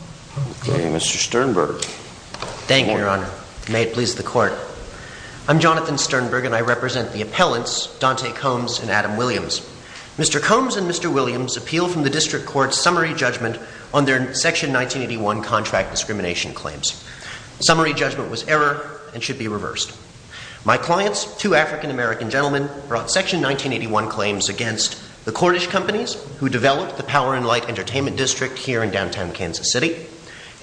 Mr. Sternberg. Thank you, Your Honor. May it please the Court. I'm Jonathan Sternberg and I represent the appellants, Dante Combs and Adam Williams. Mr. Combs and Mr. Williams appeal from the District Court's summary judgment on their Section 1981 contract discrimination claims. Summary judgment was error and should be reversed. My clients, two African-American gentlemen, brought Section 1981 claims against the Cornish companies who developed the Power and Light Entertainment District here in downtown Kansas City,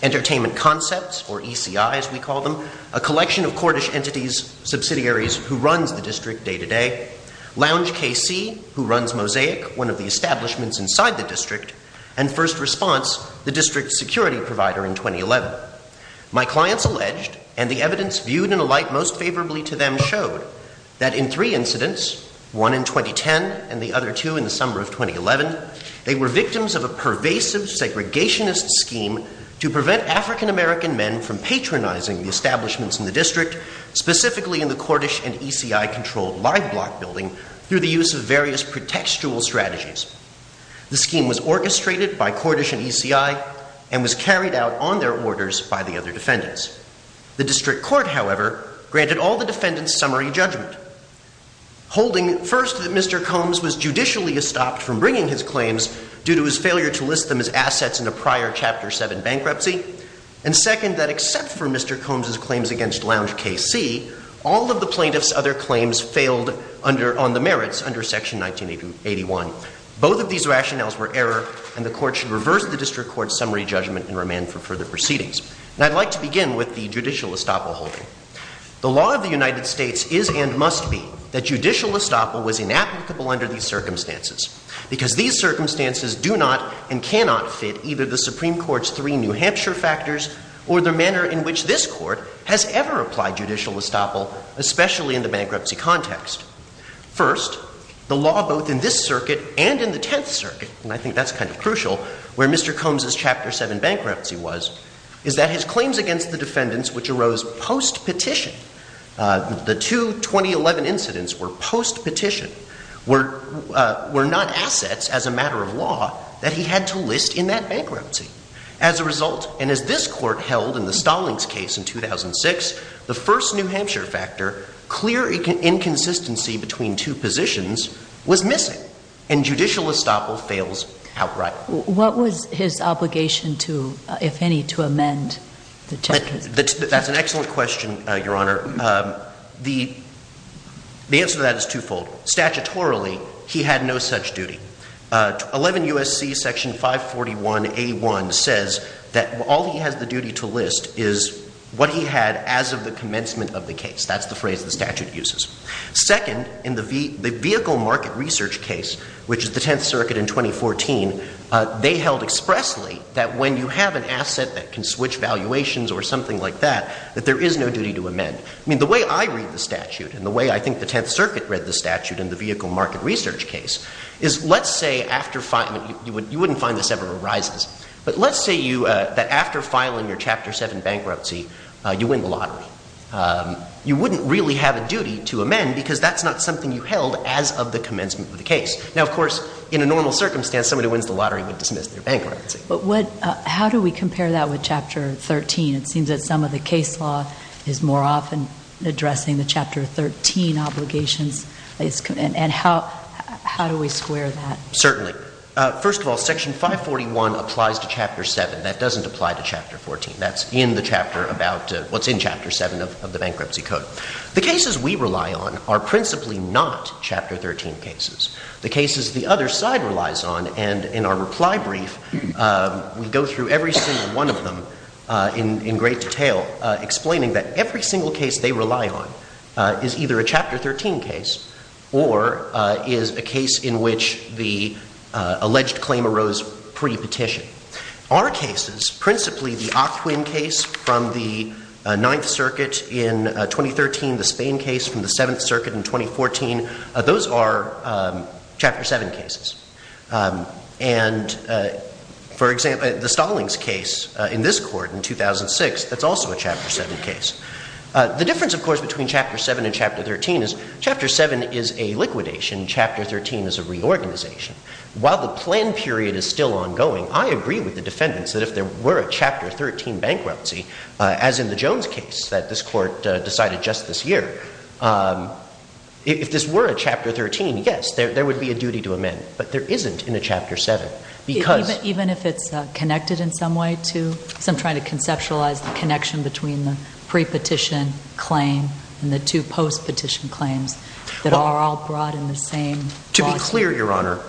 Entertainment Concepts, or ECI as we call them, a collection of Cornish entities, subsidiaries, who runs the district day-to-day, Lounge KC, who runs Mosaic, one of the establishments inside the district, and First Response, the district's security provider, in 2011. My clients alleged, and the evidence viewed in a light most favorably to them showed, that in three incidents, one in 2010 and the other two in the summer of 2011, they were victims of a pervasive segregationist scheme to prevent African-American men from patronizing the establishments in the district, specifically in the Cornish and ECI-controlled live block building, through the use of various pretextual strategies. The scheme was orchestrated by Cornish and ECI and was carried out on their orders by the other defendants. The District Court, however, granted all the defendants' summary judgment, holding, first, that Mr. Combs was judicially estopped from bringing his claims due to his failure to list them as assets in a prior Chapter VII bankruptcy, and second, that except for Mr. Combs' claims against Lounge KC, all of the plaintiffs' other claims failed on the merits under Section 1981. Both of these rationales were error, and the Court should reverse the District Court's summary judgment and remand for further proceedings. And I'd like to begin with the judicial estoppel holding. The law of the United States is and must be that judicial estoppel was inapplicable under these circumstances, because these circumstances do not and cannot fit either the Supreme Court's three New Hampshire factors or the manner in which this Court has ever applied judicial estoppel, especially in the bankruptcy context. First, the law both in this Circuit and in the Tenth Circuit, and I think that's kind of crucial, where Mr. Combs' Chapter VII bankruptcy was, is that his claims against the defendants, which arose post-petition, the two 2011 incidents were post-petition, were not assets as a matter of law that he had to list in that bankruptcy. As a result, and as this Court held in the Stallings case in 2006, the first New Hampshire factor, clear inconsistency between two positions, was missing, and judicial estoppel fails outright. What was his obligation to, if any, to amend the Tenth Circuit? That's an excellent question, Your Honor. The answer to that is twofold. Statutorily, he had no such duty. 11 U.S.C. Section 541A1 says that all he has the duty to list is what he had as of the commencement of the case. That's the phrase the statute uses. Second, in the Vehicle Market Research case, which is the Tenth Circuit in 2014, they held expressly that when you have an asset that can switch valuations or something like that, that there is no duty to amend. I mean, the way I read the statute, and the way I think the Tenth Circuit read the statute in the Vehicle Market Research case, is let's say, you wouldn't find this ever arises, but let's say that after filing your Chapter VII bankruptcy, you win the lottery. You wouldn't really have a duty to amend, because that's not something you held as of the commencement of the case. Now, of course, in a normal circumstance, somebody who wins the lottery would dismiss their bankruptcy. But what, how do we compare that with Chapter XIII? It seems that some of the case law is more often addressing the Chapter XIII obligations, and how do we square that? Certainly. First of all, Section 541 applies to Chapter VII. That doesn't apply to Chapter XIV. That's in the chapter about what's in Chapter VII of the Bankruptcy Code. The cases we rely on are principally not Chapter XIII cases. The cases the other side relies on, and in our reply brief, we go through every single one of them in great detail, explaining that every single case they rely on is either a Chapter XIII case, or is a case in which the alleged claim arose pre-petition. Our cases, principally the Ockwin case from the Ninth Circuit in 2013, the Spain case from the Seventh Circuit in 2014, those are Chapter VII cases. And, for example, the Stallings case in this court in 2006, that's also a Chapter VII case. The difference, of course, between Chapter VII and Chapter XIII is Chapter VII is a liquidation, Chapter XIII is a reorganization. While the plan period is still ongoing, I agree with the defendants that if there were a Chapter XIII bankruptcy, as in the Jones case that this court decided just this year, if this were a Chapter XIII, yes, there would be a duty to amend. But there isn't in a Chapter VII, because... Even if it's connected in some way to, because I'm trying to conceptualize the connection between the pre-petition claim and the two post-petition claims that are all brought in the same lawsuit. To be clear, Your Honor,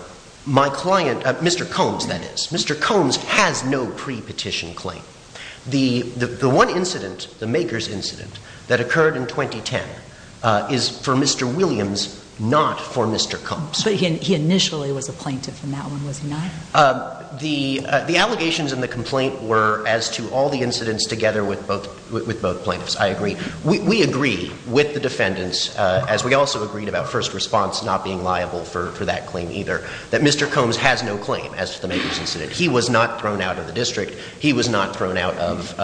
my client, Mr. Combs, that is, Mr. Combs has no pre-petition claim. The one incident, the Makers incident, that occurred in 2010, is for Mr. Williams, not for Mr. Combs. But he initially was a plaintiff in that one, was he not? The allegations in the complaint were as to all the incidents together with both plaintiffs, I agree. We agree with the defendants, as we also agreed about first response not being liable for that claim either, that Mr. Combs has no claim as to the Makers incident. He was not thrown out of the district. He was not thrown out of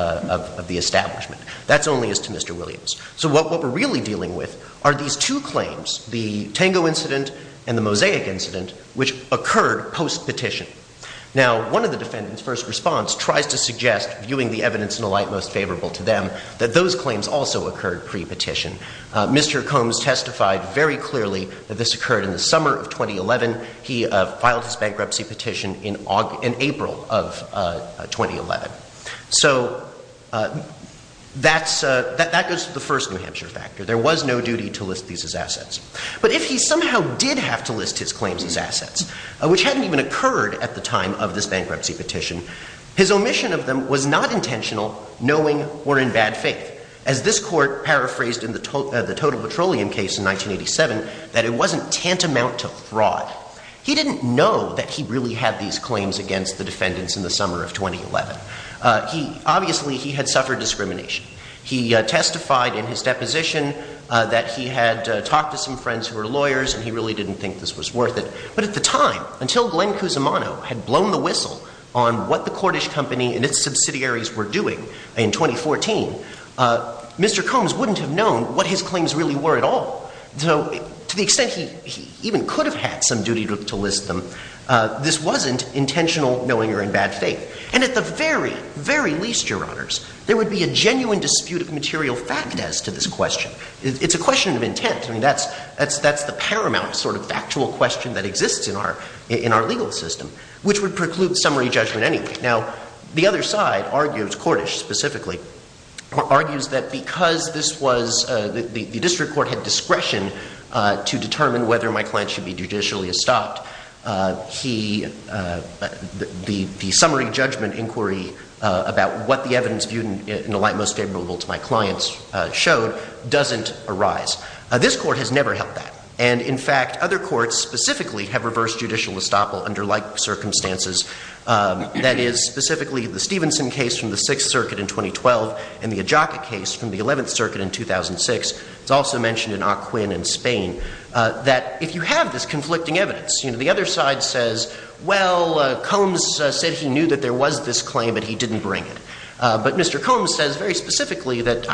the establishment. That's only as to Mr. Williams. So what we're really dealing with are these two claims, the Tango incident and the Mosaic incident, which occurred post-petition. Now, one of the defendants' first response tries to suggest, viewing the evidence in the light most favorable to them, that those claims also occurred pre-petition. Mr. Combs testified very clearly that this occurred in the summer of 2011. He filed his bankruptcy petition in April of 2011. So that goes to the first New Hampshire factor. There was no duty to list these as assets. But if he somehow did have to list his claims as assets, which hadn't even occurred at the time of this bankruptcy petition, his omission of them was not intentional, knowing or in bad faith, as this Court paraphrased in the Total Petroleum case in 1987, that it wasn't tantamount to fraud. He didn't know that he really had these claims against the defendants in the summer of 2011. Obviously he had suffered discrimination. He testified in his deposition that he had talked to some friends who were lawyers, and he really didn't think this was worth it. But at the time, until Glenn Cusimano had blown the whistle on what the Cordish Company and its subsidiaries were doing in 2014, Mr. Combs wouldn't have known what his claims really were at all. So to the extent he even could have had some duty to list them, this wasn't intentional, knowing or in bad faith. And at the very, very least, Your Honors, there would be a genuine dispute of material fact as to this question. It's a question of intent. I mean, that's the paramount sort of factual question that exists in our legal system, which would preclude summary judgment anyway. Now, the other side argues, Cordish specifically, argues that because the district court had discretion to determine whether my client should be judicially stopped, the summary judgment inquiry about what the evidence viewed in the light most favorable to my client's doesn't arise. This Court has never held that. And in fact, other courts specifically have reversed judicial estoppel under like circumstances. That is, specifically, the Stevenson case from the Sixth Circuit in 2012 and the Adjaka case from the Eleventh Circuit in 2006. It's also mentioned in Ocuin in Spain, that if you have this conflicting evidence, the other side says, well, Combs said he knew that there was this claim, but he didn't bring it. But Mr. Combs says very specifically that,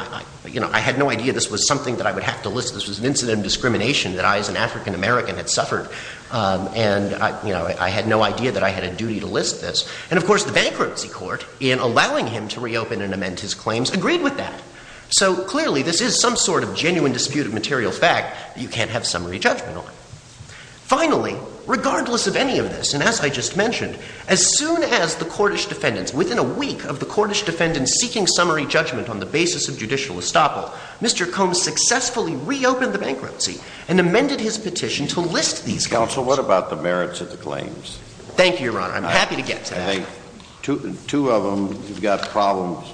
you know, I had no idea this was something that I would have to list. This was an incident of discrimination that I, as an African-American, had suffered. And, you know, I had no idea that I had a duty to list this. And of course, the bankruptcy court, in allowing him to reopen and amend his claims, agreed with that. So clearly, this is some sort of genuine dispute of material fact that you can't have summary judgment on. Finally, regardless of any of this, and as I just mentioned, as soon as the Cordish defendants, within a week of the Cordish defendants seeking summary judgment on the basis of judicial estoppel, Mr. Combs successfully reopened the bankruptcy and amended his petition to list these claims. Counsel, what about the merits of the claims? Thank you, Your Honor. I'm happy to get to that. I think two of them have got problems,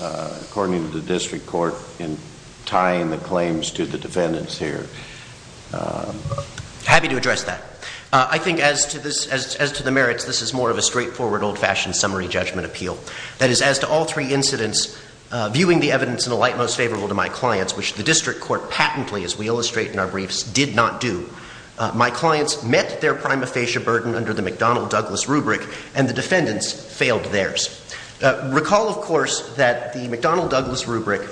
according to the district court, in tying the claims to the defendants here. Happy to address that. I think as to the merits, this is more of a straightforward, old-fashioned summary judgment appeal. That is, as to all three incidents, viewing the evidence in a light most favorable to my clients, which the district court patently, as we illustrate in our briefs, did not do, my clients met their prima facie burden under the McDonnell-Douglas rubric, and the defendants failed theirs. Recall, of course, that the McDonnell-Douglas rubric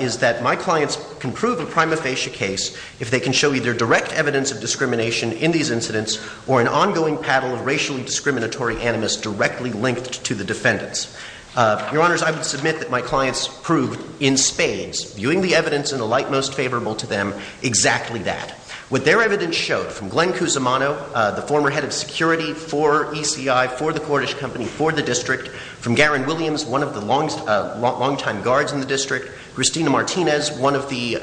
is that my clients can prove a prima facie case if they can show either direct evidence of discrimination in these incidents or an ongoing paddle of racially discriminatory animus directly linked to the defendants. Your Honors, I would submit that my clients proved, in spades, viewing the evidence in a light most favorable to them, exactly that. What their evidence showed, from Glenn Cusimano, the former head of security for ECI, for the Cordish Company, for the district, from Garen Williams, one of the longtime guards in the district, Christina Martinez, one of the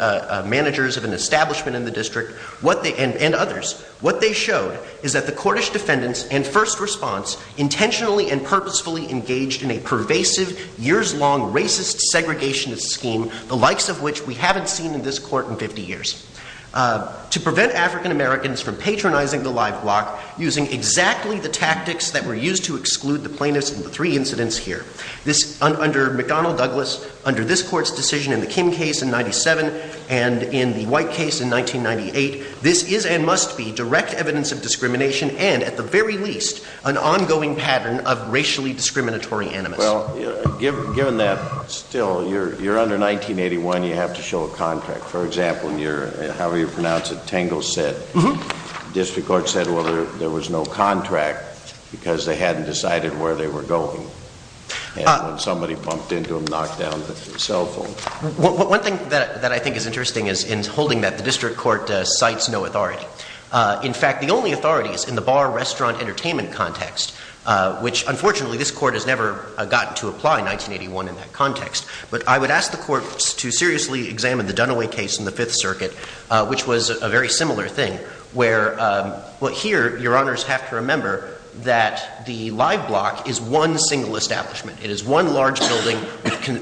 managers of an establishment in the district, and others, what they showed is that the Cordish defendants, in first response, intentionally and purposefully engaged in a pervasive, years-long racist segregationist scheme, the likes of which we haven't seen in this court in 50 years, to prevent African-Americans from patronizing the live block, using exactly the tactics that were used to exclude the plaintiffs in the three incidents here, under McDonnell-Douglas, under this court's decision in the Kim case in 97, and in the White case in 1998, this is and must be direct evidence of discrimination and, at the very least, an ongoing pattern of racially discriminatory animus. Well, given that, still, you're under 1981, you have to show a contract. For example, in your, however you pronounce it, Tangle Set, the district court said, well, there was no contract, because they hadn't decided where they were going, and when somebody bumped into them, knocked down the cell phone. One thing that I think is interesting is, in holding that, the district court cites no authority. In fact, the only authority is in the bar-restaurant-entertainment context, which, unfortunately, this court has never gotten to apply in 1981 in that context. But I would ask the courts to seriously examine the Dunaway case in the Fifth Circuit, which was a very similar thing, where, well, here, Your Honors have to remember that the live block is one single establishment. It is one large building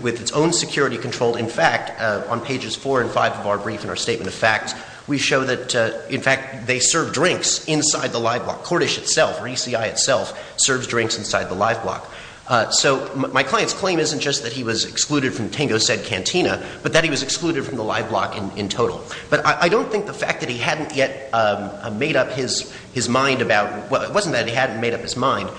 with its own security control. In fact, on pages four and five of our brief and our statement of facts, we show that, in fact, they serve drinks inside the live block. Cordish itself, or ECI itself, serves drinks inside the live block. So my client's claim isn't just that he was excluded from Tango Set Cantina, but that he was excluded from the live block in total. But I don't think the fact that he hadn't yet made up his mind about, well, it wasn't that he hadn't made up his mind.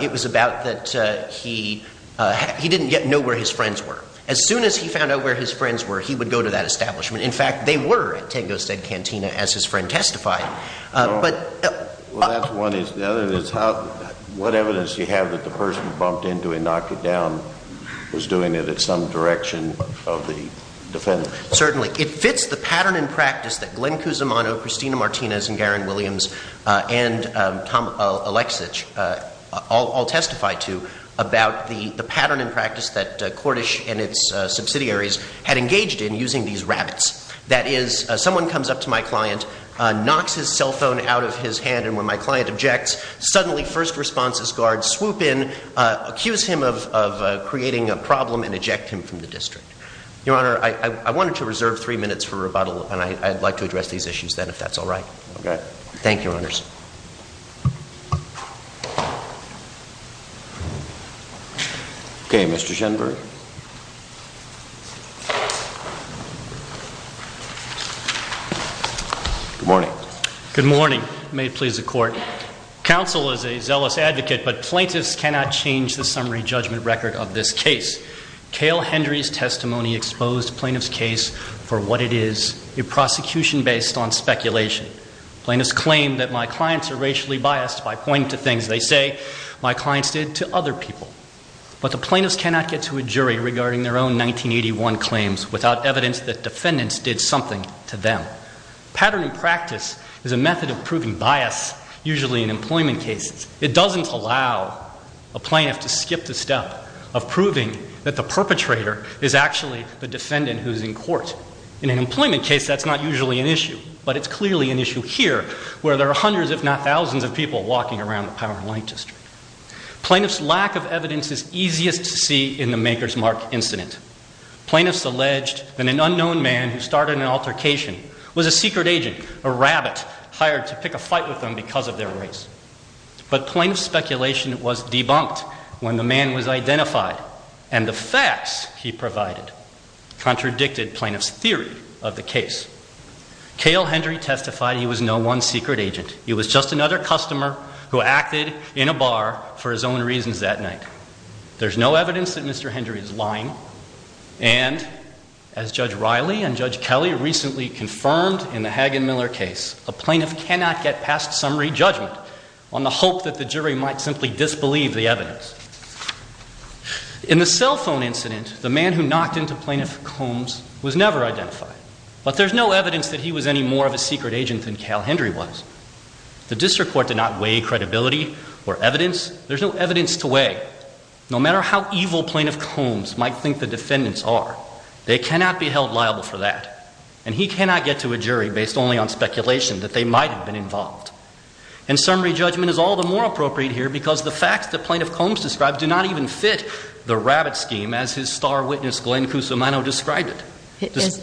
It was about that he didn't yet know where his friends were. As soon as he found out where his friends were, he would go to that establishment. In fact, they were at Tango Set Cantina, as his friend testified. But Well, that's one. The other is, what evidence do you have that the person who bumped into and knocked it down was doing it at some direction of the defendant? Certainly. It fits the pattern in practice that Glenn Cusimano, Christina Martinez, and Garen Williams and Tom Aleksich all testify to about the pattern in practice that Cordish and its subsidiaries had engaged in using these rabbits. That is, someone comes up to my client, knocks his cell phone out of his hand, and when my client objects, suddenly first responses guards swoop in, accuse him of creating a problem, and eject him from the district. Your Honor, I wanted to reserve three minutes for rebuttal, and I'd like to address these issues then, if that's all right. Okay. Thank you, Your Honors. Okay, Mr. Shenberg. Good morning. Good morning. May it please the Court. Counsel is a zealous advocate, but plaintiffs cannot change the summary judgment record of this case. Kale Hendry's testimony exposed plaintiff's case for what it is, a prosecution based on speculation. Plaintiffs claim that my clients are racially biased by pointing to things they say my clients did to other people. But the plaintiffs cannot get to a jury regarding their own 1981 claims without evidence that defendants did something to them. Pattern in practice is a method of proving bias, usually in employment cases. It doesn't allow a plaintiff to skip the step of proving that the perpetrator is actually the defendant who's in court. In an employment case, that's not usually an issue. But it's clearly an issue here, where there are hundreds, if not thousands, of people walking around the power line district. Plaintiffs' lack of evidence is easiest to see in the Maker's Mark incident. Plaintiffs alleged that an unknown man who started an altercation was a secret agent, a rabbit hired to pick a fight with them because of their race. But plaintiff's speculation was debunked when the man was identified. And the facts he provided contradicted plaintiff's theory of the case. Kale Hendry testified he was no one secret agent. He was just another customer who acted in a bar for his own reasons that night. And as Judge Riley and Judge Kelly recently confirmed in the Hagen-Miller case, a plaintiff cannot get past summary judgment on the hope that the jury might simply disbelieve the evidence. In the cell phone incident, the man who knocked into Plaintiff Combs was never identified. But there's no evidence that he was any more of a secret agent than Kale Hendry was. The district court did not weigh credibility or evidence. There's no evidence to weigh. No matter how evil Plaintiff Combs might think the defendants are, they cannot be held liable for that. And he cannot get to a jury based only on speculation that they might have been involved. And summary judgment is all the more appropriate here because the facts that Plaintiff Combs described do not even fit the rabbit scheme as his star witness, Glenn Cusumano, described it.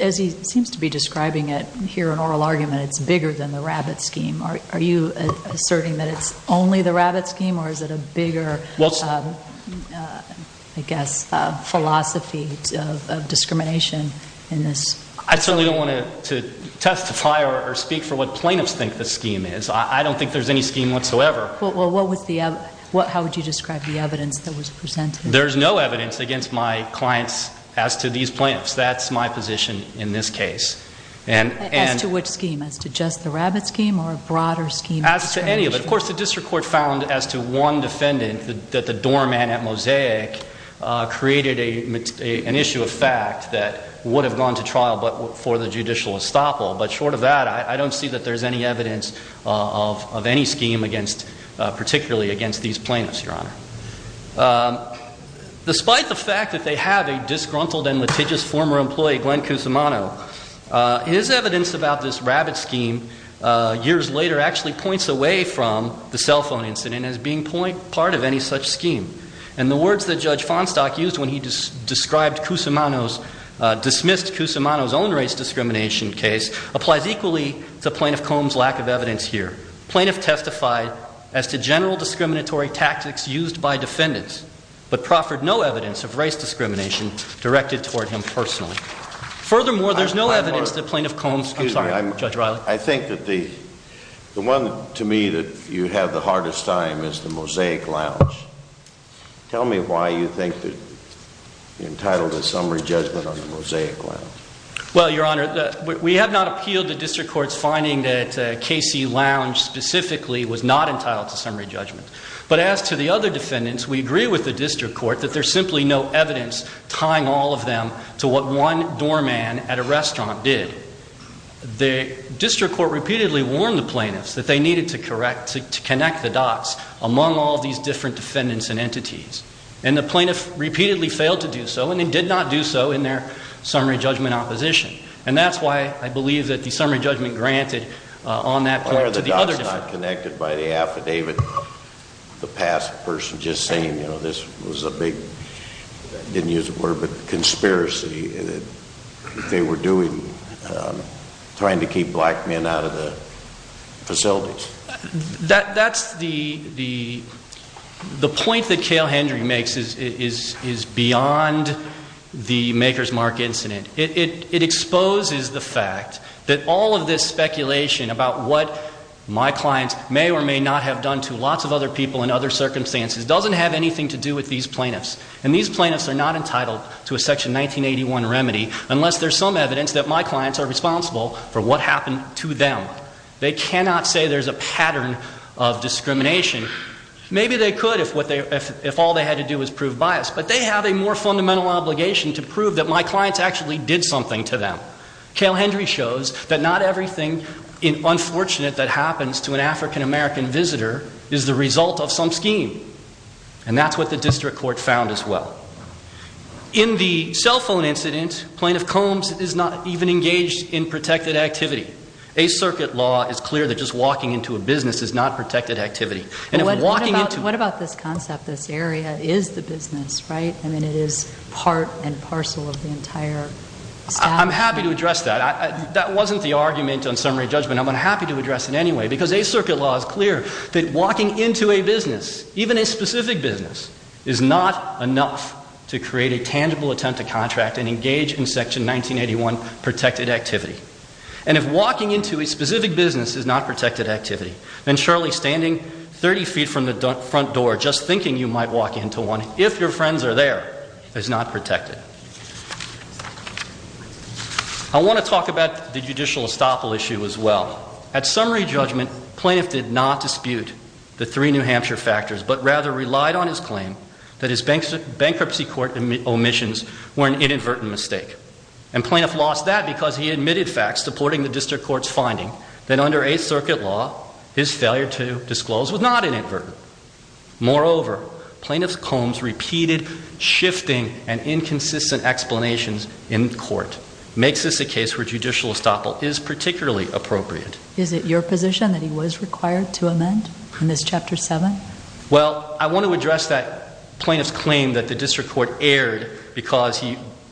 As he seems to be describing it here in oral argument, it's bigger than the rabbit scheme. Are you asserting that it's only the rabbit scheme or is it a bigger, I guess, philosophy of discrimination in this? I certainly don't want to testify or speak for what plaintiffs think the scheme is. I don't think there's any scheme whatsoever. Well, how would you describe the evidence that was presented? There's no evidence against my clients as to these plaintiffs. That's my position in this case. And- As to which scheme? As to just the rabbit scheme or a broader scheme? As to any of it. And of course, the district court found as to one defendant, that the doorman at Mosaic created an issue of fact that would have gone to trial but for the judicial estoppel. But short of that, I don't see that there's any evidence of any scheme against, particularly against these plaintiffs, Your Honor. Despite the fact that they have a disgruntled and litigious former employee, Glenn Cusumano, his evidence about this rabbit scheme years later actually points away from the cell phone incident as being part of any such scheme. And the words that Judge Fonstock used when he described Cusumano's, dismissed Cusumano's own race discrimination case, applies equally to Plaintiff Combs' lack of evidence here. Plaintiff testified as to general discriminatory tactics used by defendants, but proffered no evidence of race discrimination directed toward him personally. Furthermore, there's no evidence that Plaintiff Combs, I'm sorry, Judge Riley. I think that the one, to me, that you have the hardest time is the Mosaic Lounge. Tell me why you think that you're entitled to summary judgment on the Mosaic Lounge. Well, Your Honor, we have not appealed the district court's finding that KC Lounge specifically was not entitled to summary judgment. But as to the other defendants, we agree with the district court that there's simply no evidence tying all of them to what one doorman at a restaurant did. The district court repeatedly warned the plaintiffs that they needed to connect the dots among all these different defendants and entities. And the plaintiff repeatedly failed to do so, and they did not do so in their summary judgment opposition. And that's why I believe that the summary judgment granted on that point to the other- Why are the dots not connected by the affidavit? The past person just saying this was a big, I didn't use the word, but conspiracy that they were doing, trying to keep black men out of the facilities. That's the point that Cale Hendry makes is beyond the Maker's Mark incident. It exposes the fact that all of this speculation about what my clients may or may not have done to lots of other people in other circumstances doesn't have anything to do with these plaintiffs. And these plaintiffs are not entitled to a section 1981 remedy unless there's some evidence that my clients are responsible for what happened to them. They cannot say there's a pattern of discrimination. Maybe they could if all they had to do was prove bias. But they have a more fundamental obligation to prove that my clients actually did something to them. Cale Hendry shows that not everything unfortunate that happens to an African American visitor is the result of some scheme. And that's what the district court found as well. In the cell phone incident, Plaintiff Combs is not even engaged in protected activity. A circuit law is clear that just walking into a business is not protected activity. And if walking into- What about this concept, this area is the business, right? I'm happy to address that. That wasn't the argument on summary judgment. I'm unhappy to address it anyway. Because a circuit law is clear that walking into a business, even a specific business, is not enough to create a tangible attempt to contract and engage in section 1981 protected activity. And if walking into a specific business is not protected activity, then surely standing 30 feet from the front door, just thinking you might walk into one, if your friends are there, is not protected. I want to talk about the judicial estoppel issue as well. At summary judgment, Plaintiff did not dispute the three New Hampshire factors, but rather relied on his claim that his bankruptcy court omissions were an inadvertent mistake. And Plaintiff lost that because he admitted facts supporting the district court's finding that under a circuit law, his failure to disclose was not inadvertent. Moreover, Plaintiff's combs repeated, shifting, and inconsistent explanations in court makes this a case where judicial estoppel is particularly appropriate. Is it your position that he was required to amend in this chapter seven? Well, I want to address that plaintiff's claim that the district court erred because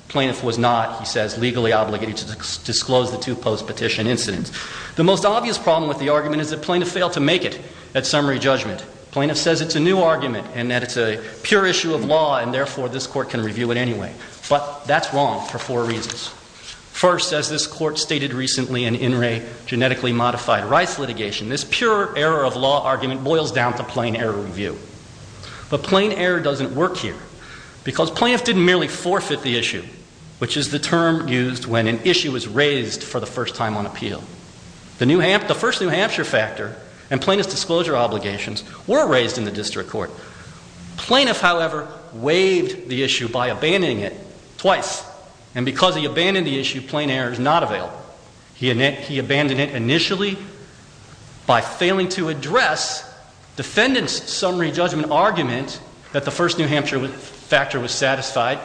plaintiff was not, he says, legally obligated to disclose the two post-petition incidents. The most obvious problem with the argument is that plaintiff failed to make it at summary judgment. Plaintiff says it's a new argument, and that it's a pure issue of law, and therefore, this court can review it anyway. But that's wrong for four reasons. First, as this court stated recently in In Re, genetically modified rights litigation, this pure error of law argument boils down to plain error review. But plain error doesn't work here, because plaintiff didn't merely forfeit the issue, which is the term used when an issue is raised for the first time on appeal. The first New Hampshire factor and plaintiff's disclosure obligations were raised in the district court. Plaintiff, however, waived the issue by abandoning it twice. And because he abandoned the issue, plain error is not available. He abandoned it initially by failing to address defendant's summary judgment argument that the first New Hampshire factor was satisfied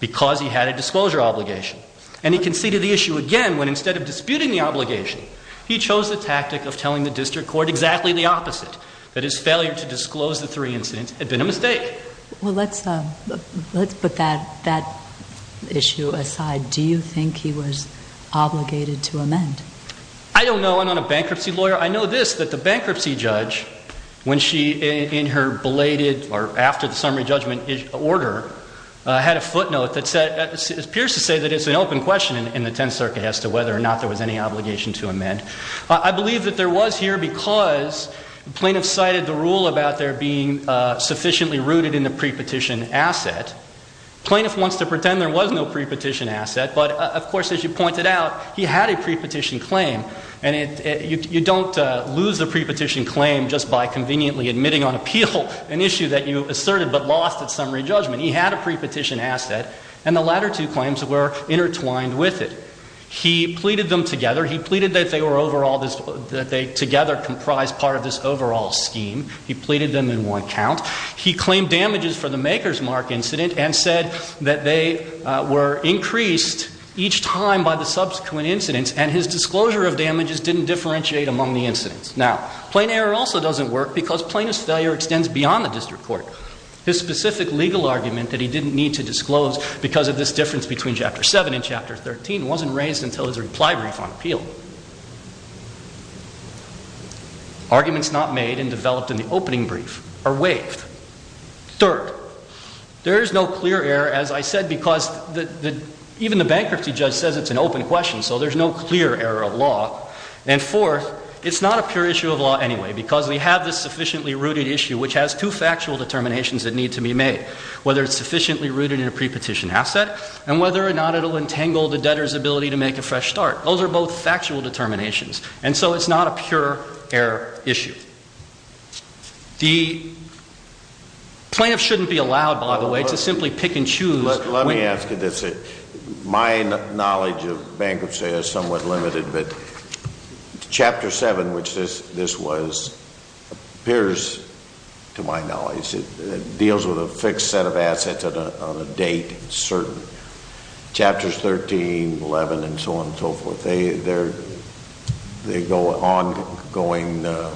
because he had a disclosure obligation. And he conceded the issue again when instead of disputing the obligation, he chose the tactic of telling the district court exactly the opposite. That his failure to disclose the three incidents had been a mistake. Well, let's put that issue aside. Do you think he was obligated to amend? I don't know. I'm not a bankruptcy lawyer. I know this, that the bankruptcy judge, when she, in her belated, or I had a footnote that said, it appears to say that it's an open question in the 10th circuit as to whether or not there was any obligation to amend. I believe that there was here because plaintiff cited the rule about there being sufficiently rooted in the pre-petition asset. Plaintiff wants to pretend there was no pre-petition asset, but of course, as you pointed out, he had a pre-petition claim. And you don't lose the pre-petition claim just by conveniently admitting on appeal an issue that you asserted but lost at summary judgment. He had a pre-petition asset and the latter two claims were intertwined with it. He pleaded them together. He pleaded that they were overall, that they together comprised part of this overall scheme. He pleaded them in one count. He claimed damages for the Maker's Mark incident and said that they were increased each time by the subsequent incidents and his disclosure of damages didn't differentiate among the incidents. Now, plain error also doesn't work because plaintiff's failure extends beyond the district court. His specific legal argument that he didn't need to disclose because of this difference between Chapter 7 and Chapter 13 wasn't raised until his reply brief on appeal. Arguments not made and developed in the opening brief are waived. Third, there is no clear error, as I said, because even the bankruptcy judge says it's an open question, so there's no clear error of law. And fourth, it's not a pure issue of law anyway because we have this sufficiently rooted issue which has two factual determinations that need to be made. Whether it's sufficiently rooted in a pre-petition asset and whether or not it'll entangle the debtor's ability to make a fresh start. Those are both factual determinations, and so it's not a pure error issue. The plaintiff shouldn't be allowed, by the way, to simply pick and choose. Let me ask you this. My knowledge of bankruptcy is somewhat limited, but Chapter 7, which this was, appears, to my knowledge, it deals with a fixed set of assets on a date, certain. Chapters 13, 11, and so on and so forth, they go on going in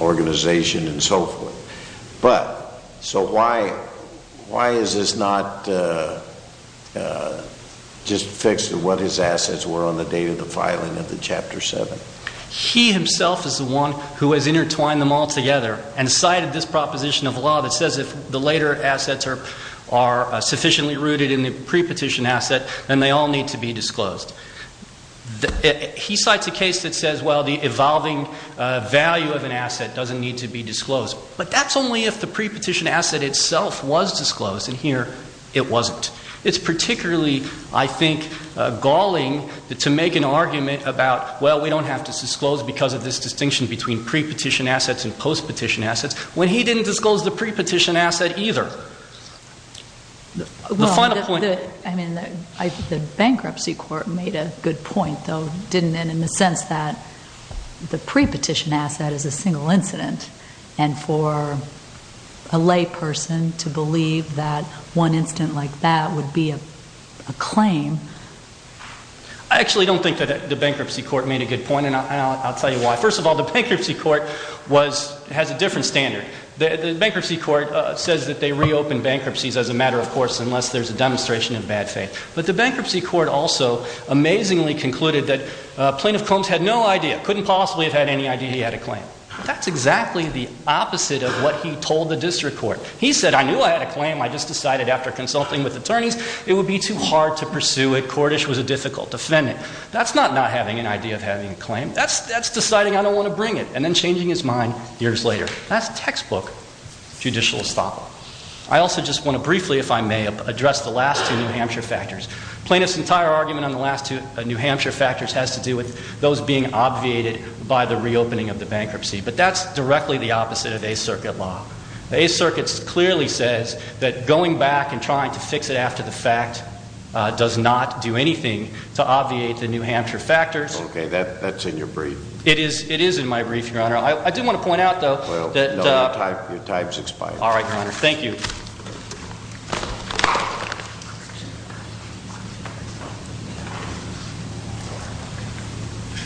organization and so forth. But, so why is this not just fixed to what his assets were on the day of the filing of the Chapter 7? He himself is the one who has intertwined them all together and cited this proposition of law that says if the later assets are sufficiently rooted in the pre-petition asset, then they all need to be disclosed. He cites a case that says, well, the evolving value of an asset doesn't need to be disclosed. But that's only if the pre-petition asset itself was disclosed, and here, it wasn't. It's particularly, I think, galling to make an argument about, well, we don't have to disclose because of this distinction between pre-petition assets and post-petition assets, when he didn't disclose the pre-petition asset either. The final point- I mean, the bankruptcy court made a good point, though, didn't it? In the sense that the pre-petition asset is a single incident. And for a lay person to believe that one incident like that would be a claim. I actually don't think that the bankruptcy court made a good point, and I'll tell you why. First of all, the bankruptcy court has a different standard. The bankruptcy court says that they reopen bankruptcies as a matter of course, unless there's a demonstration of bad faith. But the bankruptcy court also amazingly concluded that Plaintiff Combs had no idea, couldn't possibly have had any idea he had a claim. That's exactly the opposite of what he told the district court. He said, I knew I had a claim, I just decided after consulting with attorneys, it would be too hard to pursue it. Cordish was a difficult defendant. That's not not having an idea of having a claim. That's deciding I don't want to bring it, and then changing his mind years later. That's textbook judicial estoppel. I also just want to briefly, if I may, address the last two New Hampshire factors. Plaintiff's entire argument on the last two New Hampshire factors has to do with those being obviated by the reopening of the bankruptcy. But that's directly the opposite of Eighth Circuit law. The Eighth Circuit clearly says that going back and trying to fix it after the fact does not do anything to obviate the New Hampshire factors. Okay, that's in your brief. It is in my brief, your honor. I do want to point out though that- Well, your time's expired. All right, your honor. Thank you.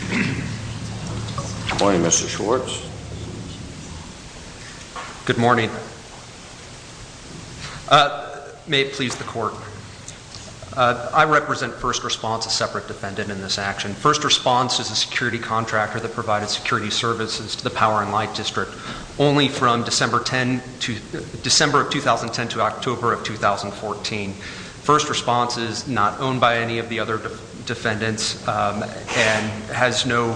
Good morning, Mr. Schwartz. Good morning. May it please the court. I represent first response, a separate defendant in this action. First response is a security contractor that provided security services to the Power and Light District. Only from December of 2010 to October of 2014. First response is not owned by any of the other defendants and has no,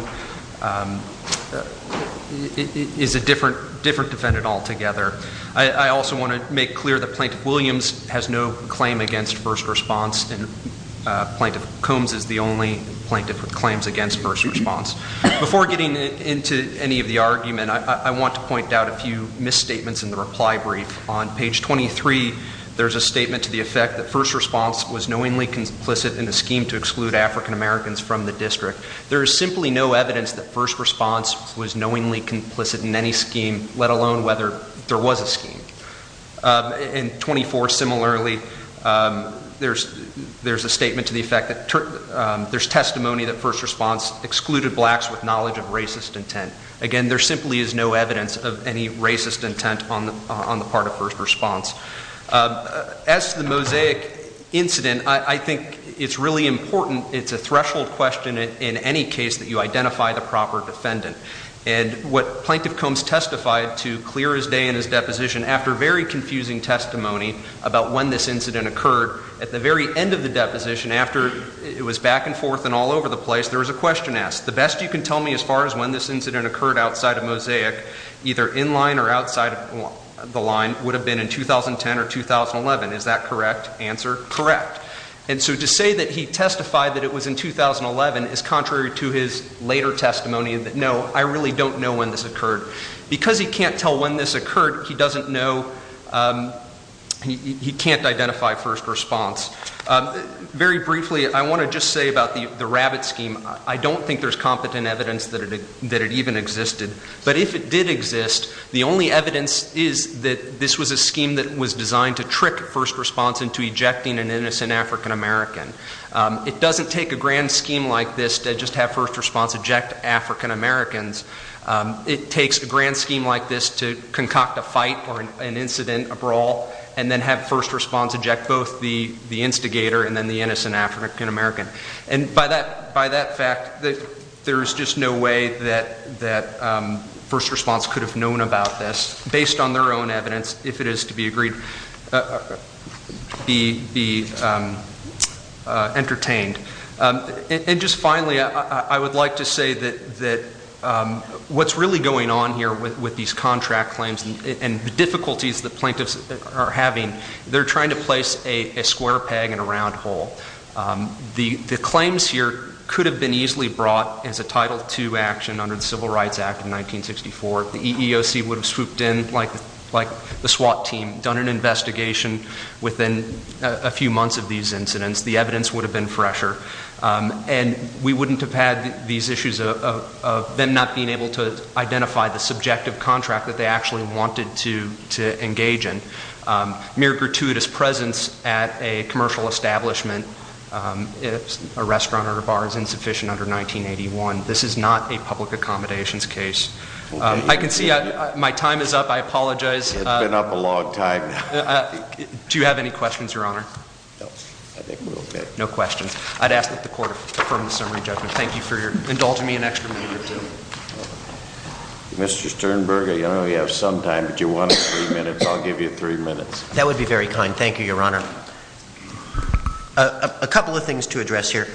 is a different defendant altogether. I also want to make clear that Plaintiff Williams has no claim against first response. And Plaintiff Combs is the only plaintiff with claims against first response. Before getting into any of the argument, I want to point out a few misstatements in the reply brief. On page 23, there's a statement to the effect that first response was knowingly complicit in a scheme to exclude African Americans from the district. There is simply no evidence that first response was knowingly complicit in any scheme, let alone whether there was a scheme. In 24 similarly, there's a statement to the effect that there's testimony that first response excluded blacks with knowledge of racist intent. Again, there simply is no evidence of any racist intent on the part of first response. As to the mosaic incident, I think it's really important, it's a threshold question in any case that you identify the proper defendant. And what Plaintiff Combs testified to clear his day in his deposition after very confusing testimony about when this incident occurred at the very end of the deposition after it was back and forth and all over the place, there was a question asked. The best you can tell me as far as when this incident occurred outside of Mosaic, either in line or outside of the line, would have been in 2010 or 2011, is that correct answer? Correct. And so to say that he testified that it was in 2011 is contrary to his later testimony. No, I really don't know when this occurred. Because he can't tell when this occurred, he doesn't know, he can't identify first response. Very briefly, I want to just say about the rabbit scheme, I don't think there's competent evidence that it even existed. But if it did exist, the only evidence is that this was a scheme that was designed to trick first response into ejecting an innocent African American. It doesn't take a grand scheme like this to just have first response eject African Americans. It takes a grand scheme like this to concoct a fight or an incident, a brawl, and then have first response eject both the instigator and then the innocent African American. And by that fact, there's just no way that first response could have known about this. Based on their own evidence, if it is to be agreed, it would be entertained. And just finally, I would like to say that what's really going on here with these contract claims and the difficulties the plaintiffs are having, they're trying to place a square peg in a round hole. The claims here could have been easily brought as a Title II action under the Civil Rights Act of 1964. The EEOC would have swooped in like the SWAT team, done an investigation within a few months of these incidents, the evidence would have been fresher. And we wouldn't have had these issues of them not being able to identify the subjective contract that they actually wanted to engage in. Mere gratuitous presence at a commercial establishment, if a restaurant or a bar is insufficient under 1981, this is not a public accommodations case. I can see my time is up, I apologize. It's been up a long time now. Do you have any questions, Your Honor? No, I think we're okay. No questions. I'd ask that the court affirm the summary judgment. Thank you for indulging me an extra minute or two. Mr. Sternberger, you only have some time, but you wanted three minutes, I'll give you three minutes. That would be very kind, thank you, Your Honor. A couple of things to address here.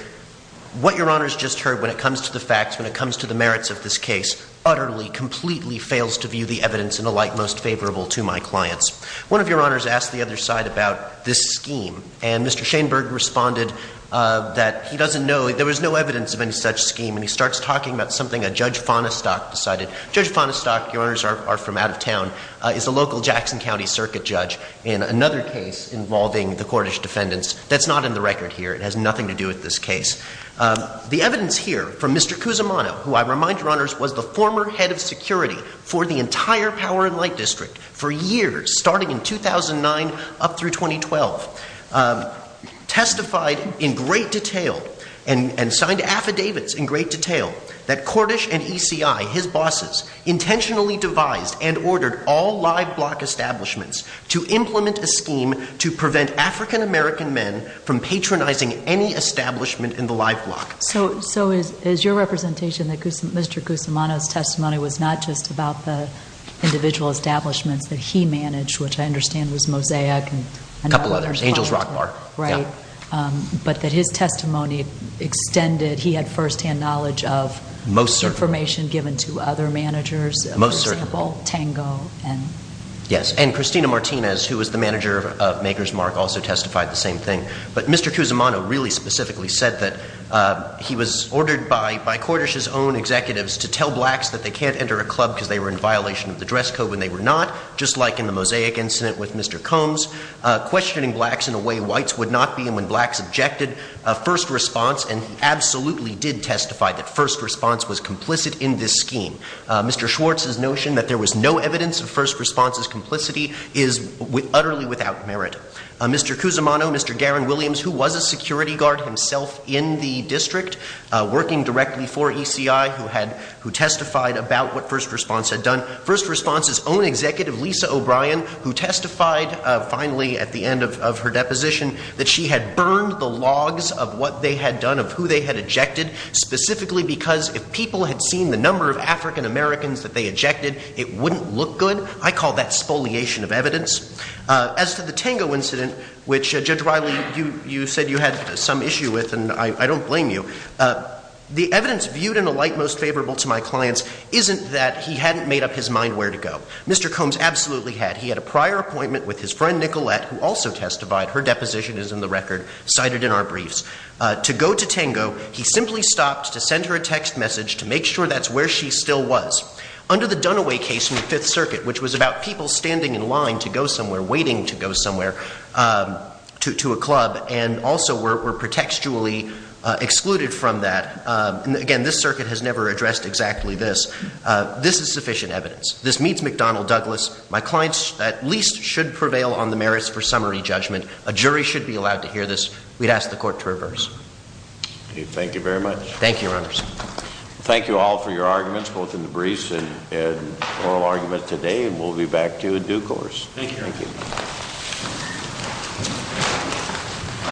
What Your Honor's just heard when it comes to the facts, when it comes to the merits of this case, utterly, completely fails to view the evidence in a light most favorable to my clients. One of Your Honors asked the other side about this scheme. And Mr. Shainberg responded that he doesn't know, there was no evidence of any such scheme. And he starts talking about something that Judge Fonestock decided. Judge Fonestock, Your Honors are from out of town, is a local Jackson County circuit judge. In another case involving the Cordish defendants, that's not in the record here. It has nothing to do with this case. The evidence here from Mr. Cusimano, who I remind Your Honors was the former head of security for the entire Power and Light District for years, starting in 2009 up through 2012. Testified in great detail and signed affidavits in great detail that Cordish and ECI, his bosses, intentionally devised and ordered all live block establishments to implement a scheme to prevent African American men from patronizing any establishment in the live block. So is your representation that Mr. Cusimano's testimony was not just about the individual establishments that he managed, which I understand was Mosaic and- A couple others, Angel's Rock Bar. Right. But that his testimony extended, he had first hand knowledge of- Most certain. Information given to other managers. Most certain. For example, Tango and- Yes, and Christina Martinez, who was the manager of Maker's Mark, also testified the same thing. But Mr. Cusimano really specifically said that he was ordered by Cordish's own executives to tell blacks that they can't enter a club because they were in violation of the dress code when they were not, just like in the Mosaic incident with Mr. Combs, questioning blacks in a way whites would not be. And when blacks objected, a first response, and he absolutely did testify that first response was complicit in this scheme. Mr. Schwartz's notion that there was no evidence of first response's complicity is utterly without merit. Mr. Cusimano, Mr. Garen Williams, who was a security guard himself in the district, working directly for ECI, who testified about what first response had done. First response's own executive, Lisa O'Brien, who testified finally at the end of her deposition, that she had burned the logs of what they had done, of who they had ejected. Specifically because if people had seen the number of African Americans that they ejected, it wouldn't look good. I call that spoliation of evidence. As to the Tango incident, which Judge Riley, you said you had some issue with, and I don't blame you. The evidence viewed in a light most favorable to my clients isn't that he hadn't made up his mind where to go. Mr. Combs absolutely had. He had a prior appointment with his friend Nicolette, who also testified, her deposition is in the record, cited in our briefs. To go to Tango, he simply stopped to send her a text message to make sure that's where she still was. Under the Dunaway case in the Fifth Circuit, which was about people standing in line to go somewhere, waiting to go somewhere to a club, and also were pretextually excluded from that. And again, this circuit has never addressed exactly this. This is sufficient evidence. This meets McDonnell Douglas. My clients at least should prevail on the merits for summary judgment. A jury should be allowed to hear this. We'd ask the court to reverse. Thank you very much. Thank you, Your Honor. Thank you all for your arguments, both in the briefs and oral argument today, and we'll be back to you in due course. Thank you.